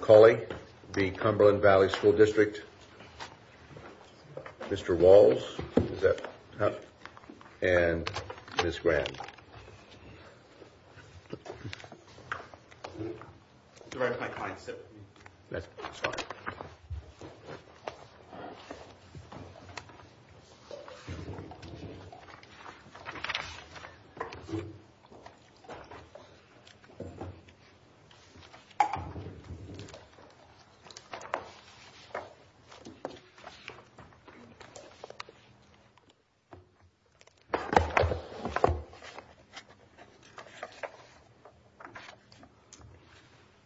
Culley, v. Cumberland Valley School District, Mr. Walls, and Ms. Graham.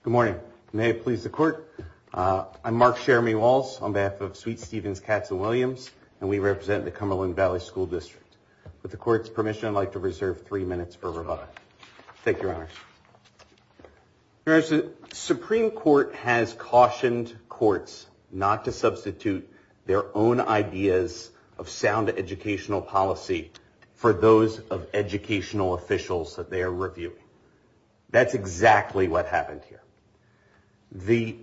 Good morning. May it please the Court, I'm Mark Sheremy Walls on behalf of Sweet-Stevens Cats and Williams, and we represent the Cumberland Valley School District. With the Court's permission, I'd like to reserve three minutes for rebuttal. Thank you, Your Honor. Your Honor, the Supreme Court has cautioned courts not to substitute their own ideas of sound educational policy for those of educational officials that they are reviewing. That's exactly what happened here. The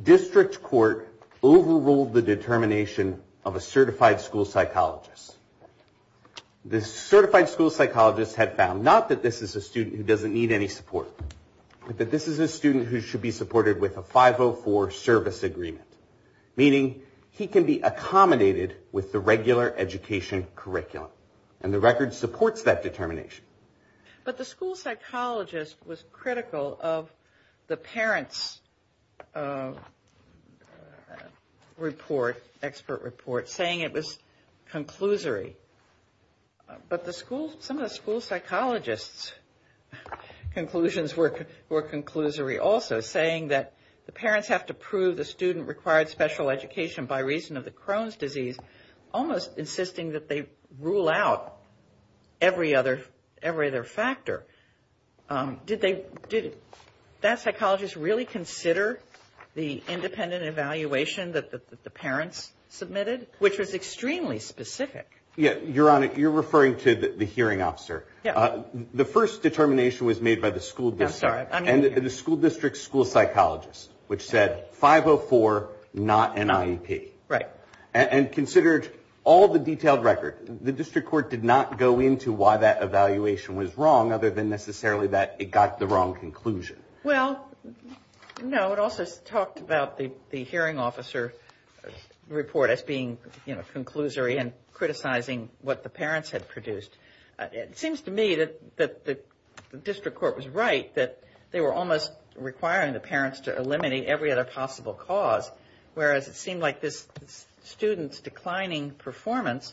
District Court overruled the determination of a certified school psychologist. The certified school psychologist had found, not that this is a student who should be supported with a 504 service agreement, meaning he can be accommodated with the regular education curriculum, and the record supports that determination. But the school psychologist was critical of the parent's report, expert report, saying it was conclusory. But some of the school psychologist's conclusions were conclusory also, saying that the parents have to prove the student required special education by reason of the Crohn's disease, almost insisting that they rule out every other factor. Did that psychologist really consider the independent evaluation that the parents submitted, which was extremely specific? Yeah. Your Honor, you're referring to the hearing officer. The first determination was made by the school district. I'm sorry. And the school district's school psychologist, which said 504, not an IEP. Right. And considered all the detailed record, the District Court did not go into why that evaluation was wrong, other than necessarily that it got the wrong conclusion. Well, no. It also talked about the hearing officer report as being, you know, conclusory and criticizing what the parents had produced. It seems to me that the District Court was right, that they were almost requiring the parents to eliminate every other possible cause, whereas it seemed like this student's declining performance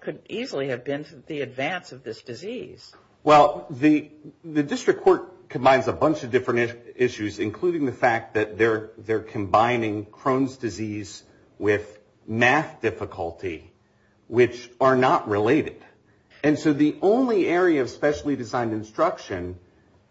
could easily have been the advance of this disease. Well, the District Court combines a bunch of different issues, including the fact that they're combining Crohn's disease with math difficulty, which are not related. And so the only area of specially designed instruction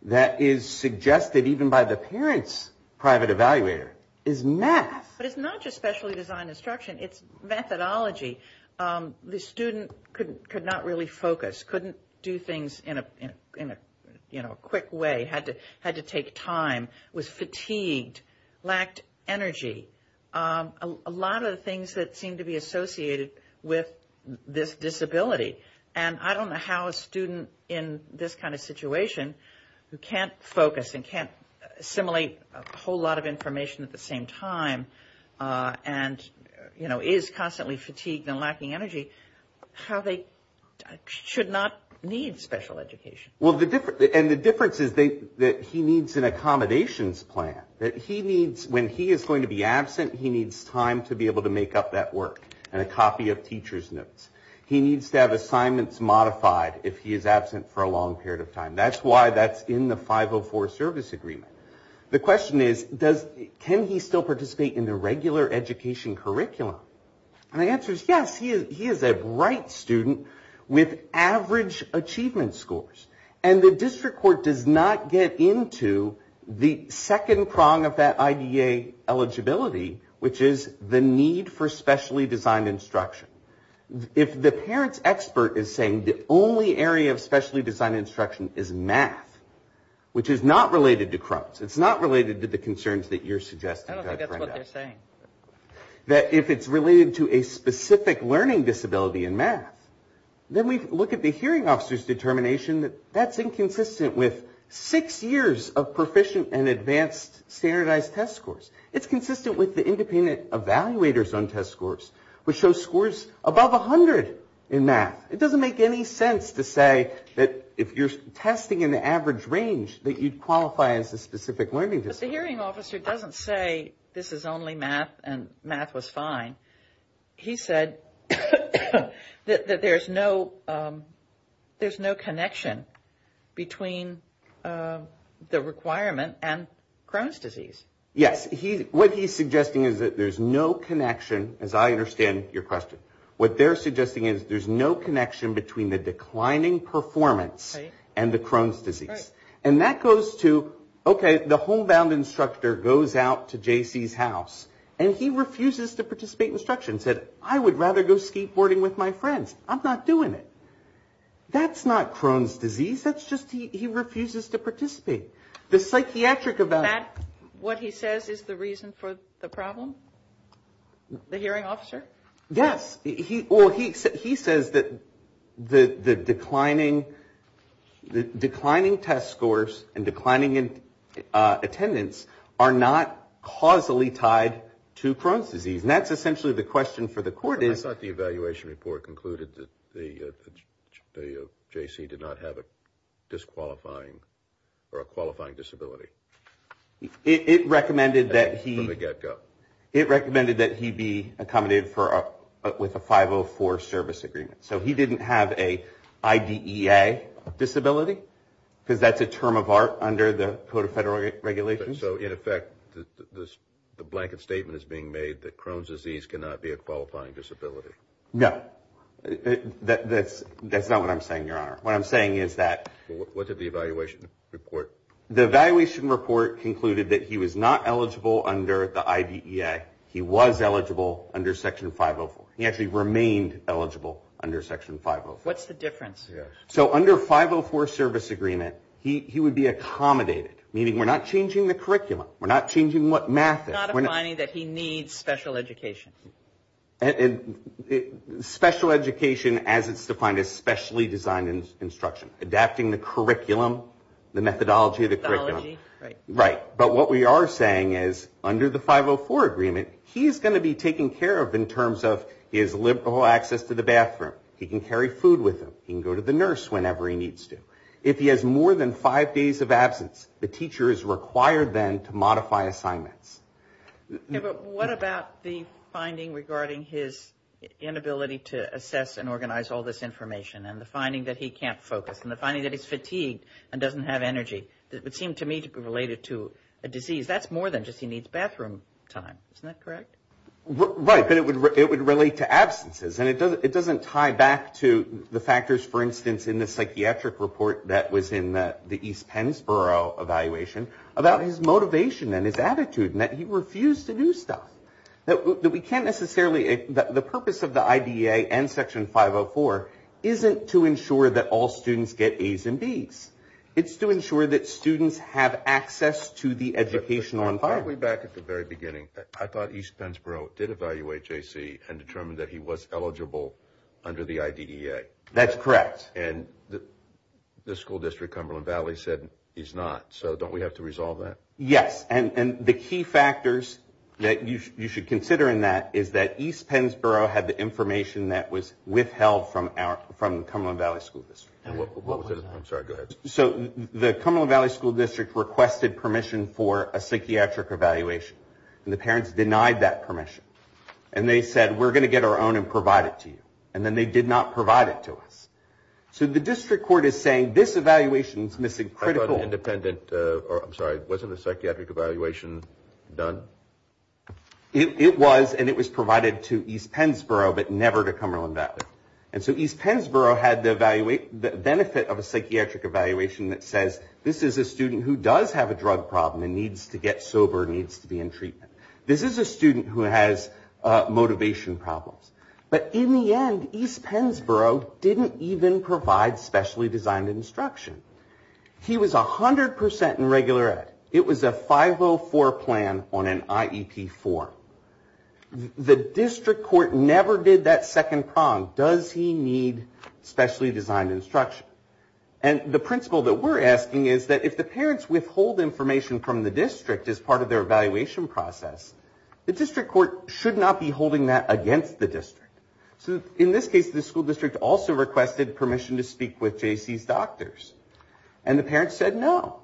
that is suggested even by the parents' private evaluator is math. But it's not just specially designed instruction. It's methodology. The student could not really focus, couldn't do things in a quick way, had to take time, was fatigued, lacked energy. A lot of the things that seem to be associated with this disability. And I don't know how a student in this kind of situation who can't focus and can't assimilate a whole lot of information at the same time and, you know, is constantly fatigued and lacking energy, how they should not need special education. Well, and the difference is that he needs an accommodations plan, that he needs, when he is going to be absent, he needs time to be able to make up that work and a copy of teacher's notes. He needs to have assignments modified if he is absent for a long period of time. That's why that's in the 504 service agreement. The question is, can he still participate in the regular education curriculum? And the answer is a bright student with average achievement scores. And the district court does not get into the second prong of that IDA eligibility, which is the need for specially designed instruction. If the parent's expert is saying the only area of specially designed instruction is math, which is not related to Crohn's, it's not related to the concerns that you're suggesting. I don't think that's what they're saying. That if it's related to a specific learning disability in math, then we look at the hearing officer's determination that that's inconsistent with six years of proficient and advanced standardized test scores. It's consistent with the independent evaluators on test scores, which show scores above 100 in math. It doesn't make any sense to say that if you're testing in the average range that you'd qualify as a specific learning disability. Because the hearing officer doesn't say this is only math and math was fine. He said that there's no connection between the requirement and Crohn's disease. Yes. What he's suggesting is that there's no connection, as I understand your question. What they're suggesting is there's no connection between the declining performance and the instructor goes out to J.C.'s house, and he refuses to participate in instruction. He said, I would rather go skateboarding with my friends. I'm not doing it. That's not Crohn's disease. That's just he refuses to participate. The psychiatric about it. What he says is the reason for the problem? The hearing officer? Yes. Well, he says that the declining test scores and declining attendance are not causally tied to Crohn's disease. And that's essentially the question for the court is. I thought the evaluation report concluded that the J.C. did not have a disqualifying or a qualifying disability. It recommended that he. From the get go. It recommended that he be accommodated with a 504 service agreement. So he didn't have a IDEA disability because that's a term of art under the Code of Federal Regulations. So in effect, the blanket statement is being made that Crohn's disease cannot be a qualifying disability. No, that's that's not what I'm saying, your honor. What I'm saying is that. What did the evaluation report? The evaluation report concluded that he was not eligible under the IDEA. He was eligible under Section 504. He actually remained eligible under Section 504. What's the difference? So under 504 service agreement, he would be accommodated, meaning we're not changing the curriculum. We're not changing what math. We're not defining that he needs special education and special education as it's defined, especially design instruction, adapting the curriculum, the methodology of the curriculum. Right. But what we are saying is under the 504 agreement, he's going to be taken care of in terms of his liberal access to the bathroom. He can carry food with him. He can go to the nurse whenever he needs to. If he has more than five days of absence, the teacher is required then to modify assignments. But what about the finding regarding his inability to assess and organize all this information and the finding that he can't focus and the finding that he's fatigued and doesn't have energy? That would seem to me to be related to a disease. That's more than just he needs bathroom time. Isn't that correct? Right. But it would relate to absences. And it doesn't tie back to the factors, for instance, in the psychiatric report that was in the East Pennsboro evaluation about his motivation and his attitude and that he refused to do stuff, that we can't necessarily, the purpose of the IDEA and Section 504 isn't to ensure that all students get A's and B's. It's to ensure that students have access to the educational environment. Probably back at the very beginning, I thought East Pennsboro did evaluate J.C. and determined that he was eligible under the IDEA. That's correct. And the school district, Cumberland Valley, said he's not. So don't we have to resolve that? Yes. And the key factors that you should consider in that is that East Pennsboro had the information that was withheld from the Cumberland Valley School District. And what was that? I'm sorry. Go ahead. So the Cumberland Valley School District requested permission for a psychiatric evaluation. And the parents denied that permission. And they said, we're going to get our own and provide it to you. And then they did not provide it to us. So the district court is saying this evaluation is missing critical... Independent, or I'm sorry, wasn't the psychiatric evaluation done? It was. And it was provided to East Pennsboro, but never to Cumberland Valley. And so East Pennsboro had the benefit of a psychiatric evaluation that says, this is a student who does have a drug problem and needs to get sober, needs to be in treatment. This is a student who has motivation problems. But in the end, East Pennsboro didn't even provide specially designed instruction. He was 100% in regular ed. It was a 504 plan on enrollment. It was an IEP form. The district court never did that second prong. Does he need specially designed instruction? And the principle that we're asking is that if the parents withhold information from the district as part of their evaluation process, the district court should not be holding that against the district. So in this case, the school district also requested permission to speak with JC's doctors. And the parents said no.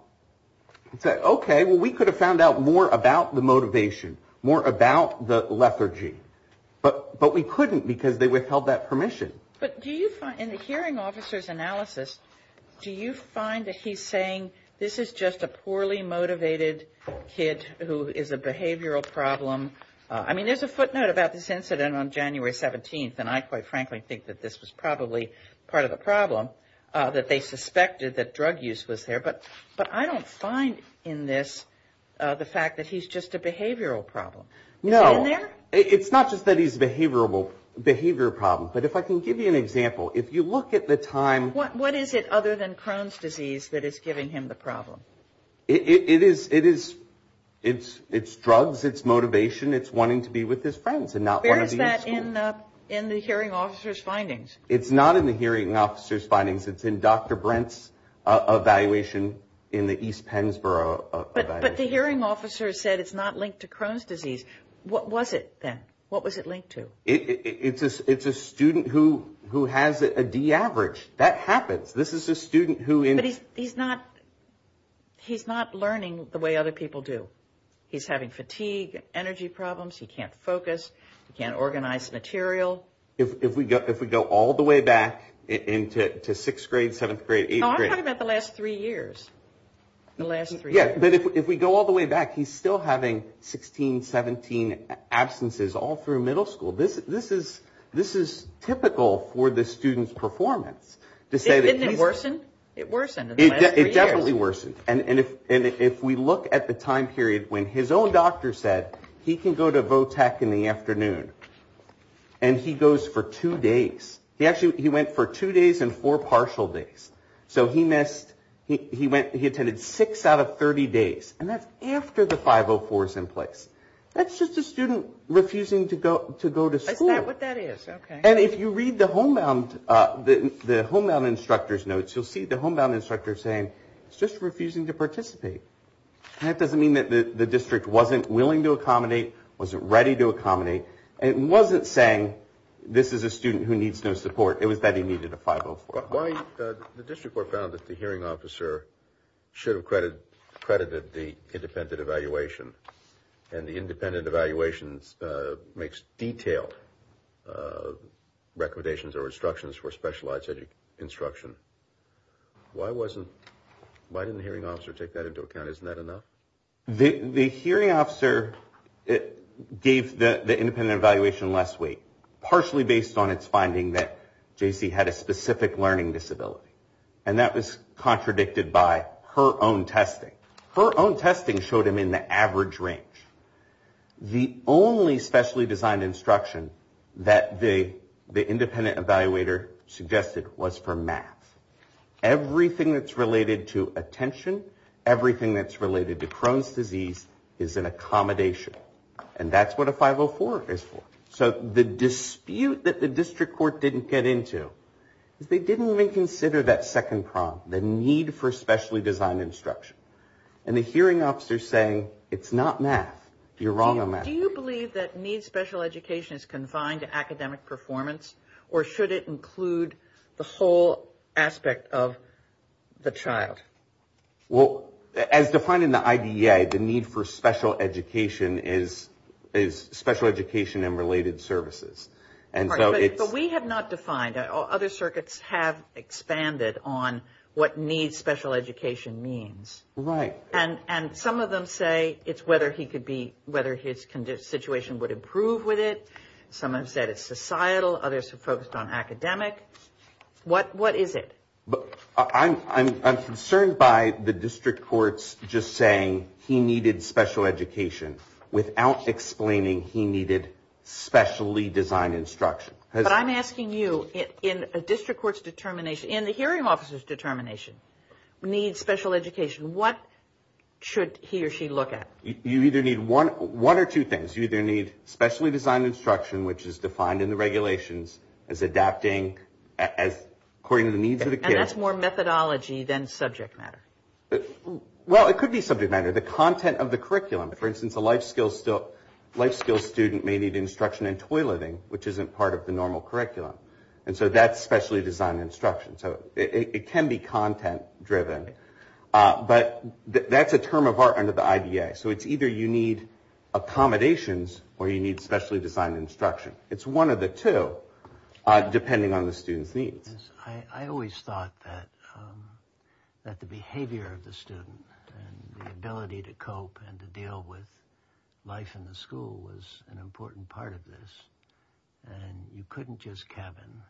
They said, okay, well, we could have found out more about the motivation, more about the lethargy, but we couldn't because they withheld that permission. But do you find, in the hearing officer's analysis, do you find that he's saying this is just a poorly motivated kid who is a behavioral problem? I mean, there's a footnote about this incident on January 17th, and I quite frankly think that this was probably part of the problem, that they suspected that drug use was there. But I don't find in this the fact that he's just a behavioral problem. Is it in there? It's not just that he's a behavioral problem. But if I can give you an example, if you look at the time... What is it other than Crohn's disease that is giving him the problem? It is drugs, it's motivation, it's wanting to be with his friends and not want to be in school. Where is that in the hearing officer's findings? It's not in the hearing officer's findings. It's in Dr. Brent's evaluation in the East Pennsboro evaluation. But the hearing officer said it's not linked to Crohn's disease. What was it then? What was it linked to? It's a student who has a D average. That happens. This is a student who... But he's not learning the way other people do. He's having fatigue, energy problems. He can't focus. He can't organize material. If we go all the way back into 6th grade, 7th grade, 8th grade... No, I'm talking about the last three years. The last three years. Yeah, but if we go all the way back, he's still having 16, 17 absences all through middle school. This is typical for the student's performance. Didn't it worsen? It worsened in the last three years. It definitely worsened. And if we look at the time period when his own doctor said he can go to VOTEC in the afternoon and he goes for two days... He actually went for two days and four partial days. So he missed... He attended six out of 30 days. And that's after the 504 is in place. That's just a student refusing to go to school. Is that what that is? Okay. And if you read the homebound instructor's notes, you'll see the homebound instructor saying, it's just refusing to participate. And that doesn't mean that the district wasn't willing to accommodate, wasn't ready to accommodate. It wasn't saying, this is a student who needs no support. It was that he needed a 504. Why... the district court found that the hearing officer should have credited the independent evaluation. And the independent evaluation makes detailed recommendations or instructions for specialized instruction. Why wasn't... Why didn't the hearing officer take that into account? Isn't that enough? The hearing officer gave the independent evaluation less weight, partially based on its finding that JC had a specific learning disability. And that was contradicted by her own testing. Her own testing showed him in the average range. The only specially designed instruction that the independent evaluator suggested was for math. Everything that's related to attention, everything that's related to Crohn's disease is an accommodation. And that's what a 504 is for. So the dispute that the district court didn't get into is they didn't even consider that second prong, the need for specially designed instruction. And the hearing officer saying, it's not math. You're wrong on math. Do you believe that needs special education is confined to academic performance or should it include the whole aspect of the child? Well, as defined in the IDEA, the need for special education is special education and related services. But we have not defined it. Other circuits have expanded on what needs special education means. Right. And some of them say it's whether he could be... whether his situation would improve with it. Some have said it's societal. Others have focused on academic. What is it? I'm concerned by the district courts just saying he needed special education without explaining he needed specially designed instruction. But I'm asking you, in a district court's determination, in the hearing officer's determination, needs special education. What should he or she look at? You either need one or two things. You either need specially designed instruction, which is defined in the regulations as adapting as according to the needs of the kid. And that's more methodology than subject matter. Well, it could be subject matter, the content of the curriculum. For instance, a life skills student may need instruction in toy living, which isn't part of the normal curriculum. And so that's specially designed instruction. So it can be content driven. But that's a term of art under the IDEA. So it's either you need accommodations or you need specially designed instruction. It's one of the two, depending on the student's needs. I always thought that the behavior of the student and the ability to cope and to deal with life in the school was an important part of this. And you couldn't just cabin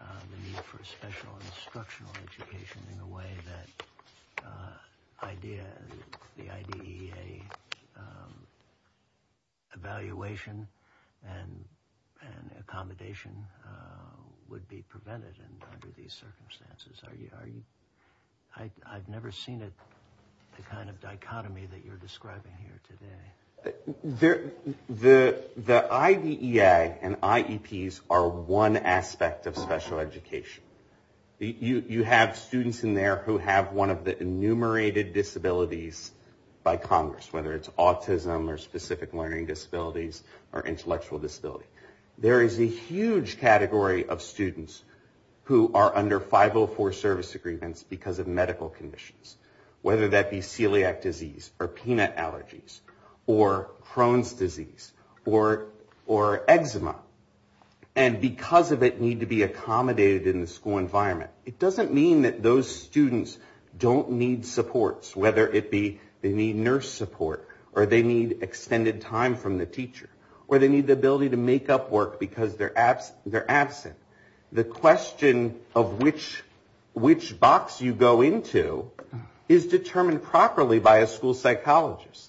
the need for special instructional education in a way that the IDEA evaluation and accommodation would be prevented under these circumstances. I've never seen the kind of dichotomy that you're describing here today. The IDEA and IEPs are one aspect of special education. You have students in there who have one of the enumerated disabilities by Congress, whether it's autism or specific learning disabilities or intellectual disability. There is a huge category of students who are under 504 service agreements because of medical conditions, whether that be celiac disease or peanut allergies or Crohn's disease or eczema. And because of it need to be accommodated in the school environment. It doesn't mean that those students don't need supports, whether it be they need nurse support or they need extended time from the teacher or they need the ability to make up work because they're absent. The question of which box you go into is determined properly by a school psychologist.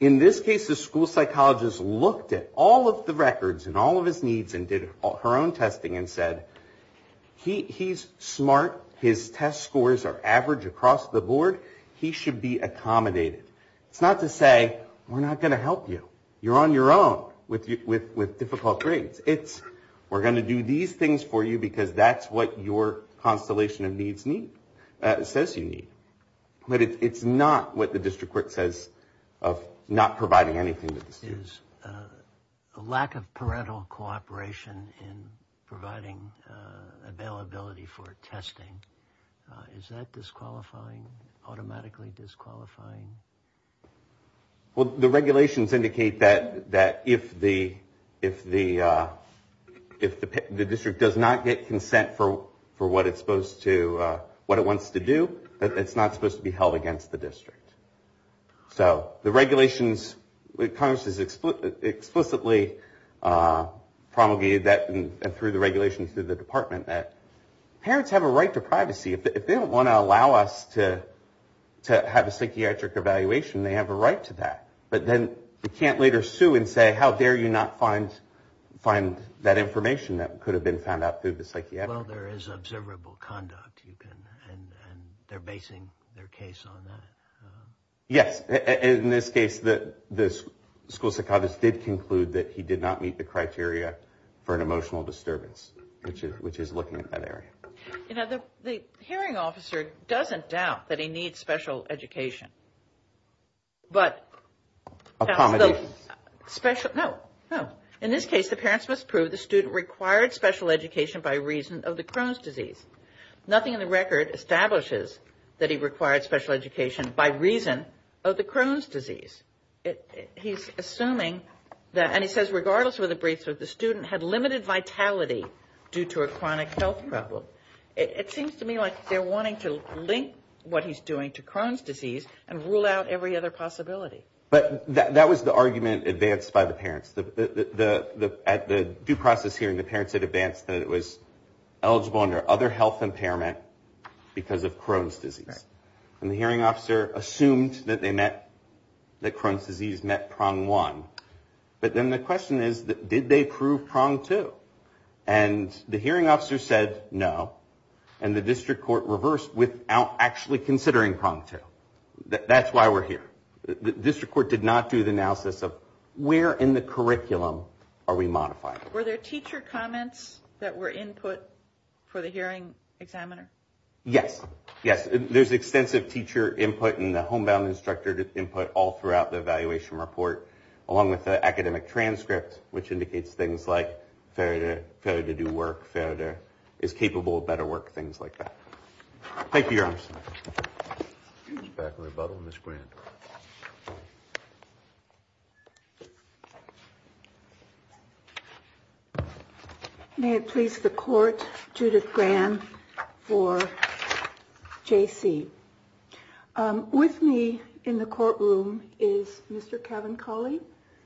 In this case, the school psychologist looked at all of the records and all of his needs and did her own testing and said he's smart. His test scores are average across the board. He should be accommodated. It's not to say we're not going to help you. You're on your own with difficult grades. It's we're going to do these things for you because that's what your constellation of needs says you need. But it's not what the district court says of not providing anything to the students. A lack of parental cooperation in providing availability for testing. Is that disqualifying, automatically disqualifying? Well, the regulations indicate that if the district does not get consent for what it's supposed to, what it wants to do, it's not supposed to be held against the district. So the regulations, Congress has explicitly promulgated that through the regulations through the department that parents have a right to privacy. If they don't want to allow us to have a psychiatric evaluation, they have a right to that. But then you can't later sue and say how dare you not find that information that could have been found out through the psychiatric. Well, there is observable conduct you can and they're basing their case on that. Yes, in this case, the school psychiatrist did conclude that he did not meet the criteria for an emotional disturbance, which is looking at that area. You know, the hearing officer doesn't doubt that he needs special education. But special, no, no. In this case, the parents must prove the student required special education by reason of the Crohn's disease. Nothing in the record establishes that he required special education by reason of the Crohn's disease. He's assuming that, and he says regardless of the briefs, that the student had limited vitality due to a chronic health problem. It seems to me like they're wanting to link what he's doing to Crohn's disease and rule out every other possibility. But that was the argument advanced by the parents. At the due process hearing, the parents had advanced that it was eligible under other health impairment because of Crohn's disease. And the hearing officer assumed that they met, that Crohn's disease met prong one. But then the question is, did they prove prong two? And the hearing officer said no. And the district court reversed without actually considering prong two. That's why we're here. District court did not do the analysis of where in the curriculum are we modifying? Were there teacher comments that were input for the hearing examiner? Yes. Yes. There's extensive teacher input and the homebound instructor input all throughout the evaluation report, along with the academic transcript, which indicates things like failure to do work, failure to, is capable of better work, things like that. Thank you, your honors. Back in rebuttal, Ms. Grant. May it please the court, Judith Grant for JC. With me in the courtroom is Mr. Kevin Colley,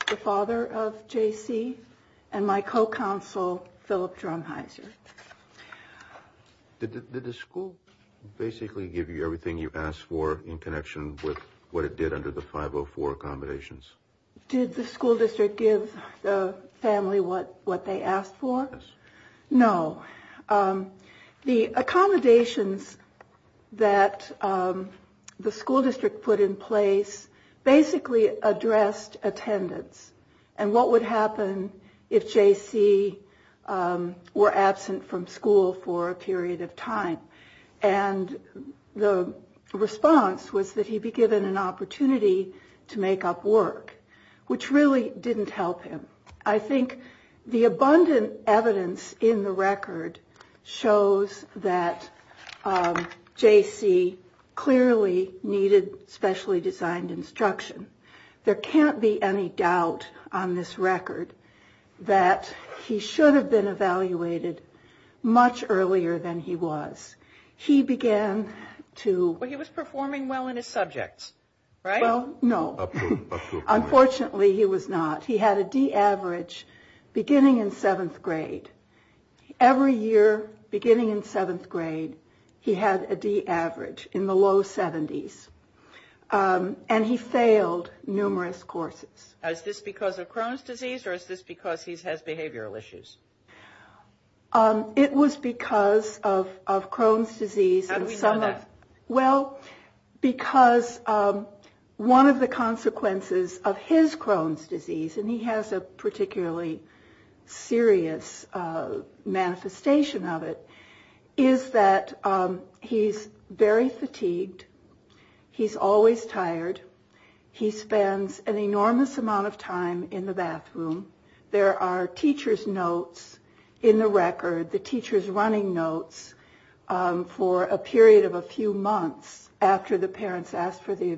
the father of JC, and my co-counsel, Philip Drumheiser. Did the school basically give you everything you asked for in connection with what it did under the 504 accommodations? Did the school district give the family what they asked for? No. The accommodations that the school district put in place basically addressed attendance. And what would happen if JC were absent from school for a period of time? And the response was that he be given an opportunity to make up work, which really didn't help him. I think the abundant evidence in the record shows that JC clearly needed specially designed instruction. There can't be any doubt on this record that he should have been evaluated much earlier than he was. He began to... But he was performing well in his subjects, right? Well, no. Unfortunately, he was not. He had a D average beginning in seventh grade. Every year, beginning in seventh grade, he had a D average in the low 70s. And he failed numerous courses. Is this because of Crohn's disease or is this because he has behavioral issues? It was because of Crohn's disease. How do we know that? Well, because one of the consequences of his Crohn's disease, and he has a particularly serious manifestation of it, is that he's very fatigued. He's always tired. He spends an enormous amount of time in the bathroom. There are teacher's notes in the record. The teacher's running notes for a period of a few months after the parents asked for the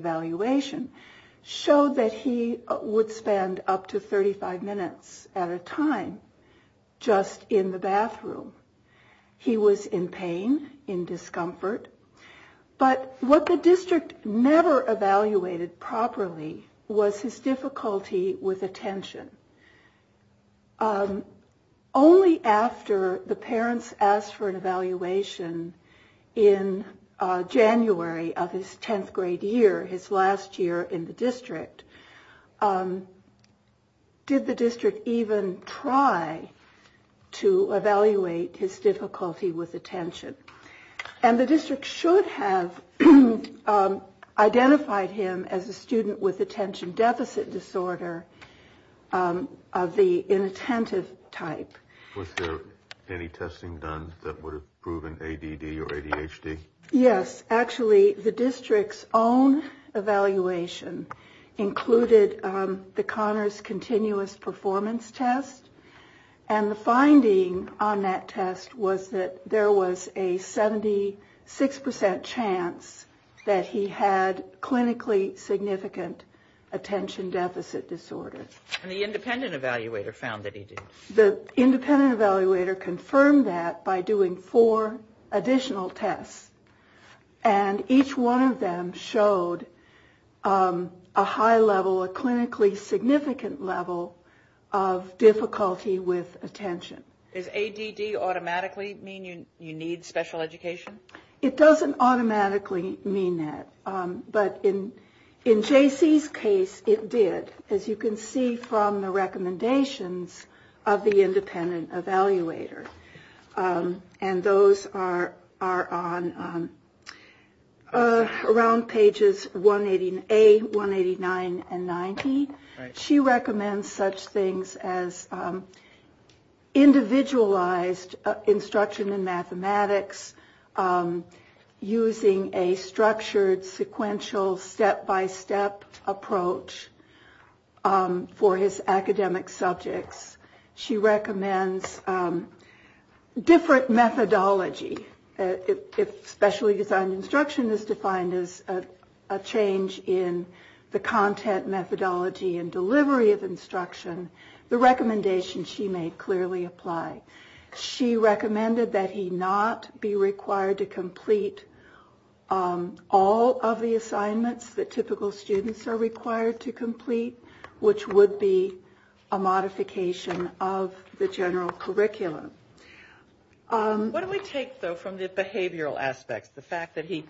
time just in the bathroom. He was in pain, in discomfort. But what the district never evaluated properly was his difficulty with attention. Only after the parents asked for an evaluation in January of his 10th grade year, his last year in the district, did the district even try to evaluate his difficulty with attention. And the district should have identified him as a student with attention deficit disorder of the inattentive type. Was there any testing done that would have proven ADD or ADHD? Yes. Actually, the district's own evaluation included the Connors continuous performance test. And the finding on that test was that there was a 76 percent chance that he had clinically significant attention deficit disorder. And the independent evaluator found that he did? The independent evaluator confirmed that by doing four additional tests. And each one of them showed a high level, a clinically significant level of difficulty with attention. Does ADD automatically mean you need special education? It doesn't automatically mean that. But in J.C.'s case, it did, as you can see from the recommendations of the independent evaluator. And those are around pages A, 189, and 90. She recommends such things as individualized instruction in mathematics, using a structured, sequential, step-by-step approach for his academic subjects. She recommends different methodology. If specially designed instruction is defined as a change in the content methodology and delivery of instruction, the recommendation she made clearly apply. She recommended that he not be required to complete all of the assignments that typical students are required to complete, which would be a modification of the general curriculum. What do we take, though, from the behavioral aspects? The fact that he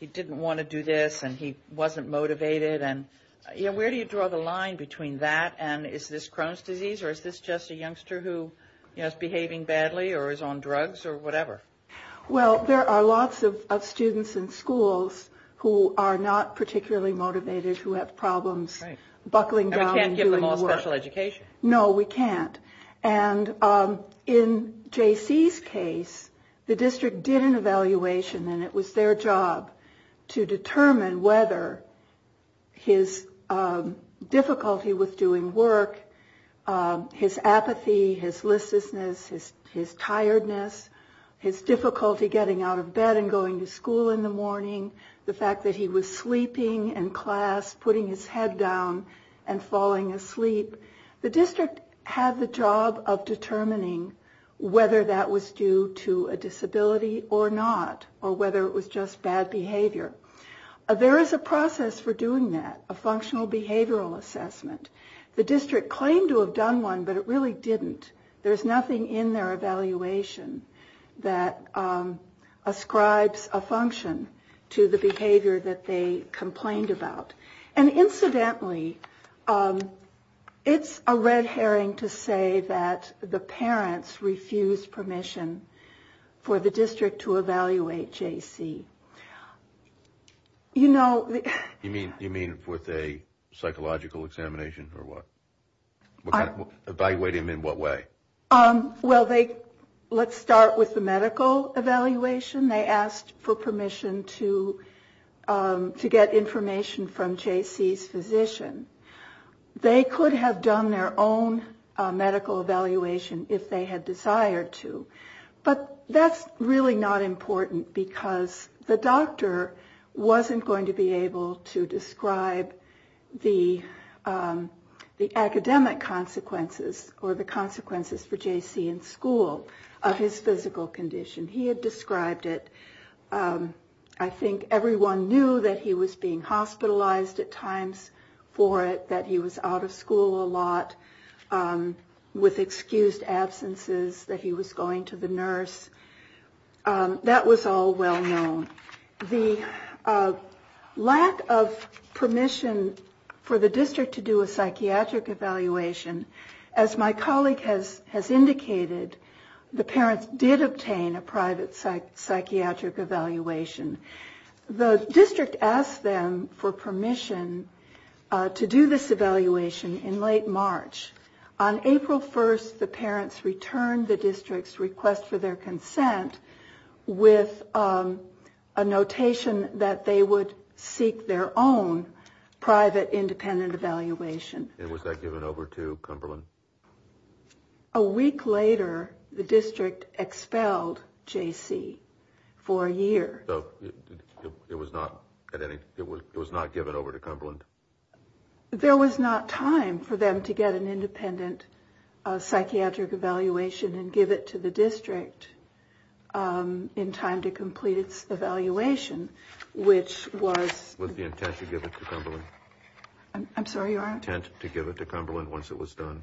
didn't want to do this and he wasn't motivated and, you know, where do you draw the line between that and is this Crohn's disease or is this just a youngster who is behaving badly or is on drugs or whatever? Well, there are lots of students in schools who are not particularly motivated, who have problems buckling down. And we can't give them all special education. No, we can't. And in J.C.'s case, the district did an evaluation and it was their job to determine whether his difficulty with doing work, his apathy, his listlessness, his tiredness, his difficulty getting out of bed and going to school in the morning, the fact that he was sleeping in class, putting his head down and falling asleep. The district had the job of determining whether that was due to a disability or not or whether it was just bad behavior. There is a process for doing that, a functional behavioral assessment. The district claimed to have done one, but it really didn't. There's nothing in their evaluation that ascribes a function to the behavior that they complained about. And incidentally, it's a red herring to say that the parents refused permission for the district to evaluate J.C. You mean with a psychological examination or what? Evaluate him in what way? Well, let's start with the medical evaluation. They asked for permission to get information from J.C.'s physician. They could have done their own medical evaluation if they had desired to, but that's really not important because the doctor wasn't going to be able to describe the academic consequences or the consequences for J.C. in school of his physical condition. He had described it. I think everyone knew that he was being hospitalized at times for it, that he was out of school a lot with excused absences, that he was going to the nurse. That was all well known. The lack of permission for the district to do a psychiatric evaluation, as my colleague has indicated, the parents did obtain a private psychiatric evaluation. The district asked them for permission to do this evaluation in late March. On April 1st, the parents returned the district's request for their consent with a notation that they would seek their own private independent evaluation. And was that given over to Cumberland? A week later, the district expelled J.C. for a year. It was not given over to Cumberland? There was not time for them to get an independent psychiatric evaluation and give it to the district in time to complete its evaluation, which was... Was the intent to give it to Cumberland once it was done?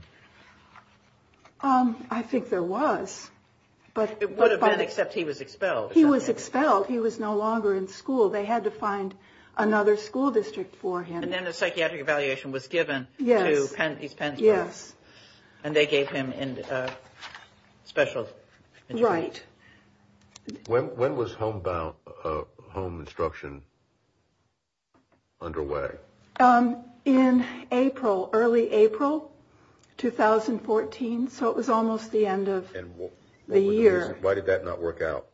I think there was, but... It would have been, except he was expelled. He was expelled. He was no longer in school. They had to find another school district for him. And then a psychiatric evaluation was given to these parents. Yes. And they gave him special... Right. When was home instruction underway? In April, early April 2014. So it was almost the end of the year. Why did that not work out?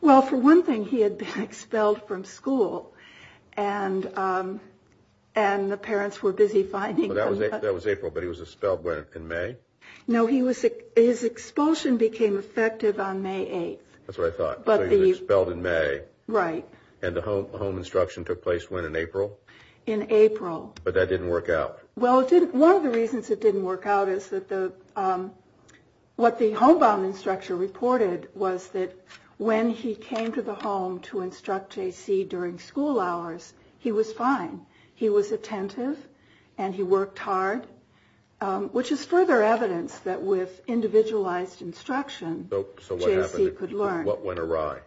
Well, for one thing, he had been expelled from school and the parents were busy finding him. That was April, but he was expelled in May? No, his expulsion became effective on May 8th. That's what I thought. So he was expelled in May. Right. And the home instruction took place when? In April? In April. But that didn't work out? Well, one of the reasons it didn't work out is that what the homebound instructor reported was that when he came to the home to instruct J.C. during school hours, he was fine. He was attentive and he worked hard, which is further evidence that with individualized instruction, J.C. could learn. So what went awry?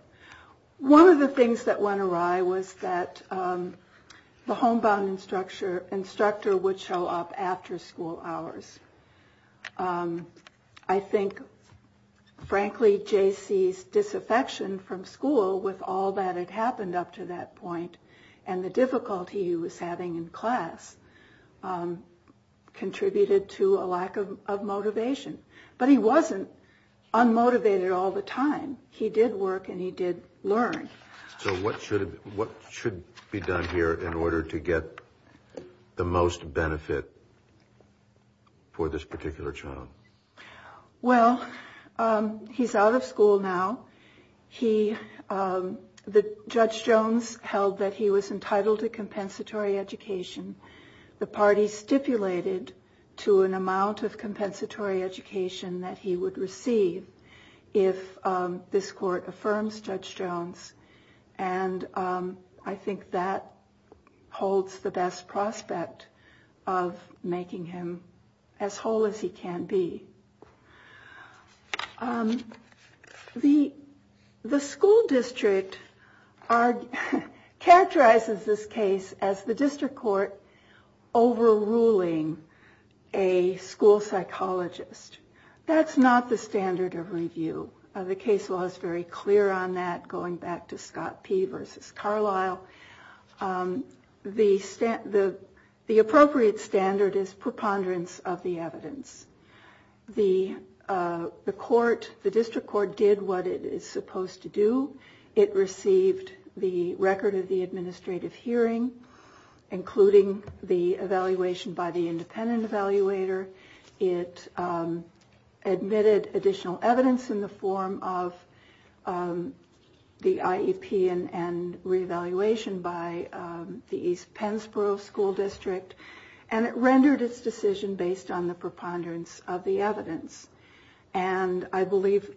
One of the things that went awry was that the homebound instructor would show up after school hours. I think, frankly, J.C.'s disaffection from school with all that had happened up to that point and the difficulty he was having in class contributed to a lack of motivation. But he wasn't unmotivated all the time. He did work and he did learn. So what should be done here in order to get the most benefit for this particular child? Well, he's out of school now. The Judge Jones held that he was entitled to compensatory education. The party stipulated to an amount of compensatory education that he would receive if this court affirms Judge Jones. And I think that holds the best prospect of making him as whole as he can be. The school district characterizes this case as the district court overruling a school psychologist. That's not the standard of review. The case law is very clear on that, going back to Scott P versus Carlisle. The appropriate standard is preponderance of the evidence. The district court did what it is supposed to do. It received the record of the administrative hearing, including the evaluation by the independent evaluator. It admitted additional evidence in the form of the IEP and re-evaluation by the East Pensborough School District. And it rendered its decision based on the preponderance of the evidence. And I believe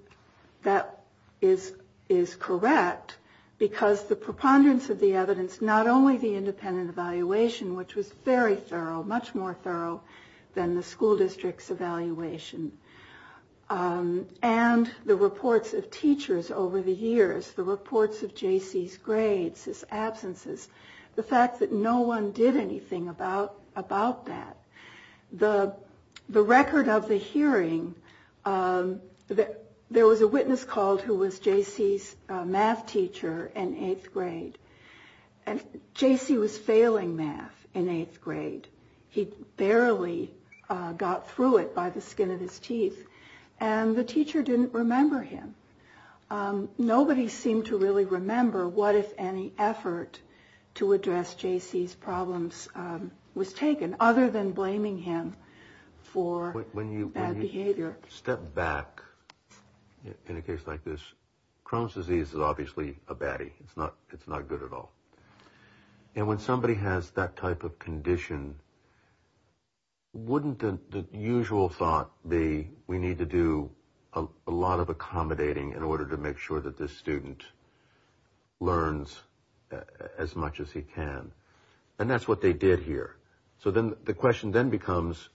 that is correct because the preponderance of the evidence, not only the school district's evaluation and the reports of teachers over the years, the reports of J.C.'s grades, his absences, the fact that no one did anything about that, the record of the hearing, there was a witness called who was J.C.'s math teacher in eighth grade. And J.C. was failing math in eighth grade. He barely got through it by the skin of his teeth. And the teacher didn't remember him. Nobody seemed to really remember what, if any, effort to address J.C.'s problems was taken, other than blaming him for bad behavior. When you step back in a case like this, Crohn's disease is obviously a baddie. It's not good at all. And when somebody has that type of condition, wouldn't the usual thought be we need to do a lot of accommodating in order to make sure that this student learns as much as he can? And that's what they did here. So then the question then becomes,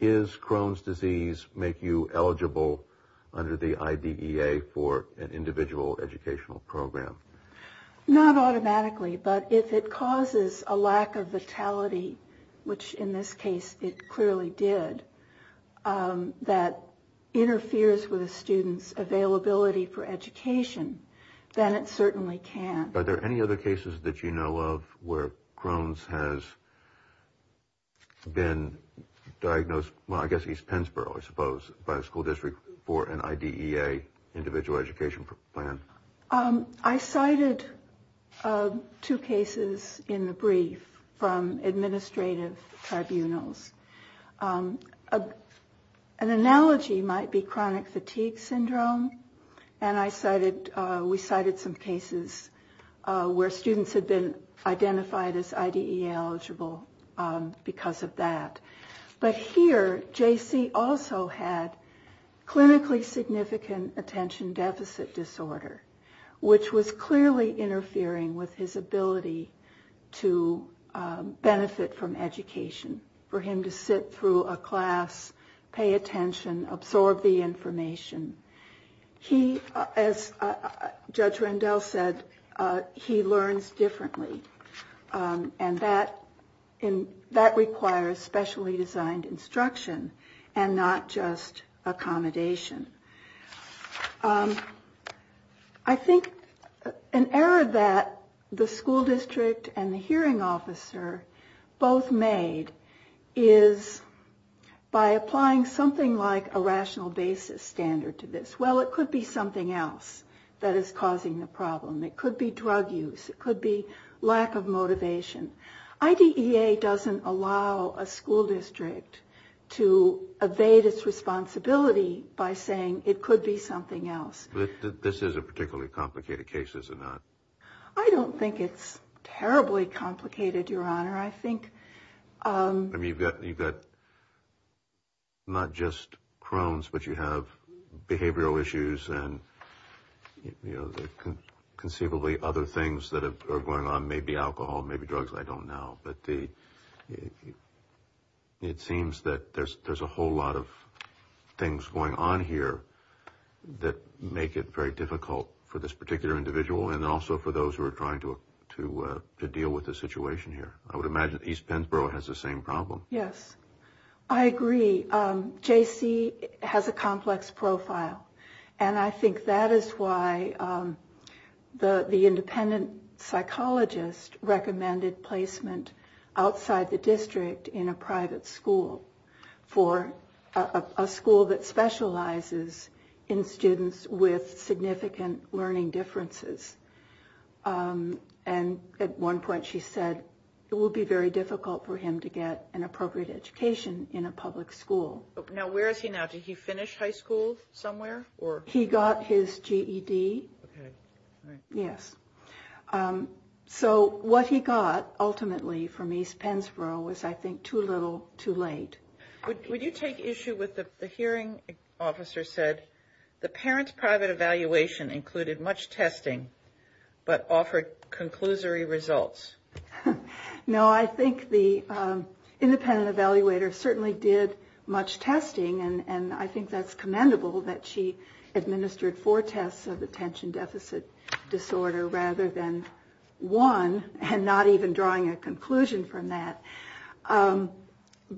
is Crohn's disease make you eligible under the IDEA for an individual educational program? Not automatically. But if it causes a lack of vitality, which in this case it clearly did, that interferes with a student's availability for education, then it certainly can. Are there any other cases that you know of where Crohn's has been diagnosed, well, I guess East Pennsboro, I suppose, by a school district for an IDEA individual education plan? I cited two cases in the brief from administrative tribunals. An analogy might be chronic fatigue syndrome. And we cited some cases where students had been identified as IDEA eligible because of that. But here, JC also had clinically significant attention deficit disorder, which was clearly interfering with his ability to benefit from education. For him to sit through a class, pay attention, absorb the information. As Judge Rendell said, he learns differently. And that requires specially designed instruction and not just accommodation. I think an error that the school district and the hearing officer both made is by applying something like a rational basis standard to this. Well, it could be something else that is causing the problem. It could be drug use. It could be lack of motivation. IDEA doesn't allow a school district to evade its responsibility by saying it could be something else. This is a particularly complicated case, is it not? I don't think it's terribly complicated, Your Honor. I think... I mean, you've got not just Crohn's, but you have behavioral issues and conceivably other things that are going on, maybe alcohol, maybe drugs. I don't know. But it seems that there's a whole lot of things going on here that make it very difficult for this particular individual and also for those who are trying to deal with the situation here. I would imagine East Pennsboro has the same problem. Yes. I agree. JC has a complex profile. And I think that is why the independent psychologist recommended placement outside the district in a private school for a school that specializes in students with significant learning differences. And at one point she said it would be very difficult for him to get an appropriate education in a public school. Now, where is he now? Did he finish high school somewhere? Or... He got his GED. Yes. So what he got ultimately from East Pennsboro was, I think, too little, too late. Would you take issue with what the hearing officer said? The parent's private evaluation included much testing, but offered conclusory results. No, I think the independent evaluator certainly did much testing, and I think that's commendable that she administered four tests of attention deficit disorder rather than one, and not even drawing a conclusion from that.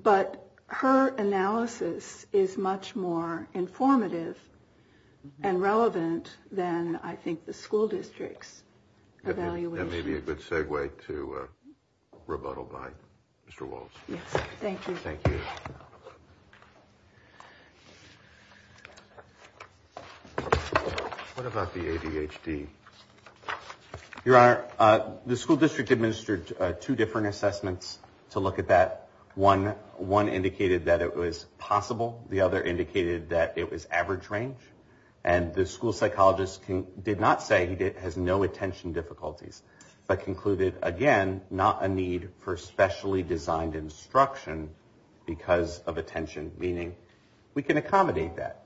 But her analysis is much more informative and relevant than, I think, the school district's evaluation. That may be a good segue to rebuttal by Mr. Waltz. Yes, thank you. Thank you. What about the ADHD? Your Honor, the school district administered two different assessments to look at that. One indicated that it was possible. The other indicated that it was average range, and the school psychologist did not say he has no attention difficulties, but concluded, again, not a need for specially designed instruction because of attention. Meaning, we can accommodate that.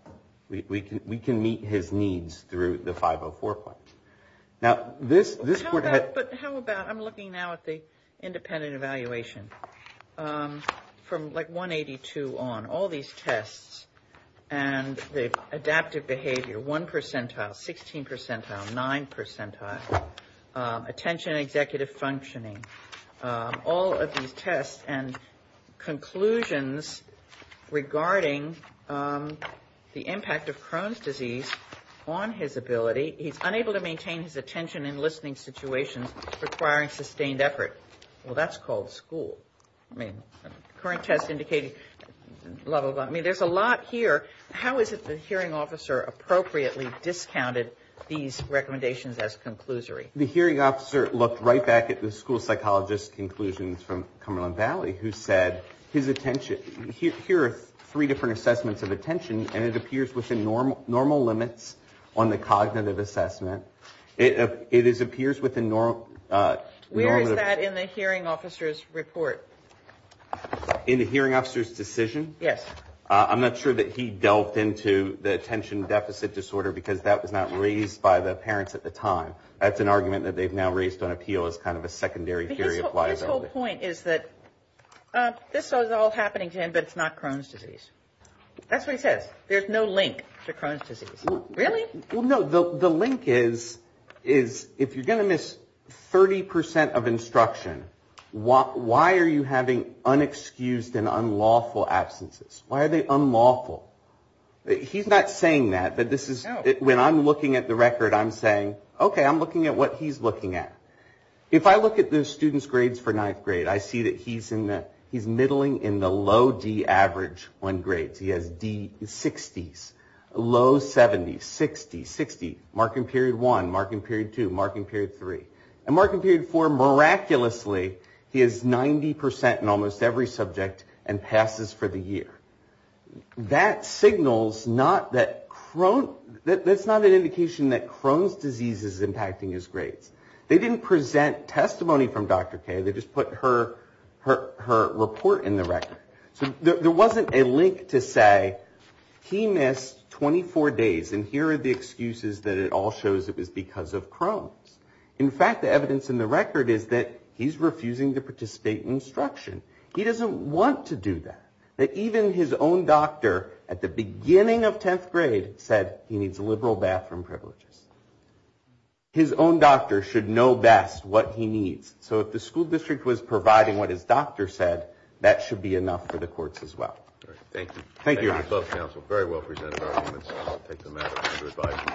We can meet his needs through the 504 point. Now, this would have... But how about... I'm looking now at the independent evaluation from like 182 on. All these tests and the adaptive behavior, 1 percentile, 16 percentile, 9 percentile, attention executive functioning. All of these tests and conclusions regarding the impact of Crohn's disease on his ability. He's unable to maintain his attention in listening situations requiring sustained effort. Well, that's called school. I mean, current test indicated level of... I mean, there's a lot here. How is it the hearing officer appropriately discounted these recommendations as conclusory? The hearing officer looked right back at the school psychologist conclusions from Cumberland Valley, who said his attention... Here are three different assessments of attention, and it appears within normal limits on the cognitive assessment. It appears within normal... Where is that in the hearing officer's report? In the hearing officer's decision? Yes. I'm not sure that he delved into the attention deficit disorder, because that was not raised by the parents at the time. That's an argument that they've now raised on appeal as kind of a secondary theory of liability. His whole point is that this is all happening to him, but it's not Crohn's disease. That's what he says. There's no link to Crohn's disease. Really? Well, no. The link is, if you're going to miss 30 percent of instruction, why are you having unexcused and unlawful absences? Why are they unlawful? He's not saying that, but when I'm looking at the record, I'm saying, okay, I'm looking at what he's looking at. If I look at the students' grades for ninth grade, I see that he's middling in the low D average on grades. He has D60s, low 70s, 60, 60, mark in period one, mark in period two, mark in period three. And mark in period four, miraculously, he is 90 percent in almost every subject and passes for the year. That signals not that Crohn's, that's not an indication that Crohn's disease is impacting his grades. They didn't present testimony from Dr. K. They just put her report in the record. So there wasn't a link to say, he missed 24 days, and here are the excuses that it all shows it was because of Crohn's. In fact, the evidence in the record is that he's refusing to participate in instruction. He doesn't want to do that, that even his own doctor at the beginning of 10th grade said he needs liberal bathroom privileges. His own doctor should know best what he needs. So if the school district was providing what his doctor said, that should be enough for the courts as well. All right. Thank you. Thank you. Thank you both, counsel. Very well presented arguments. I'll take them out of under advisement.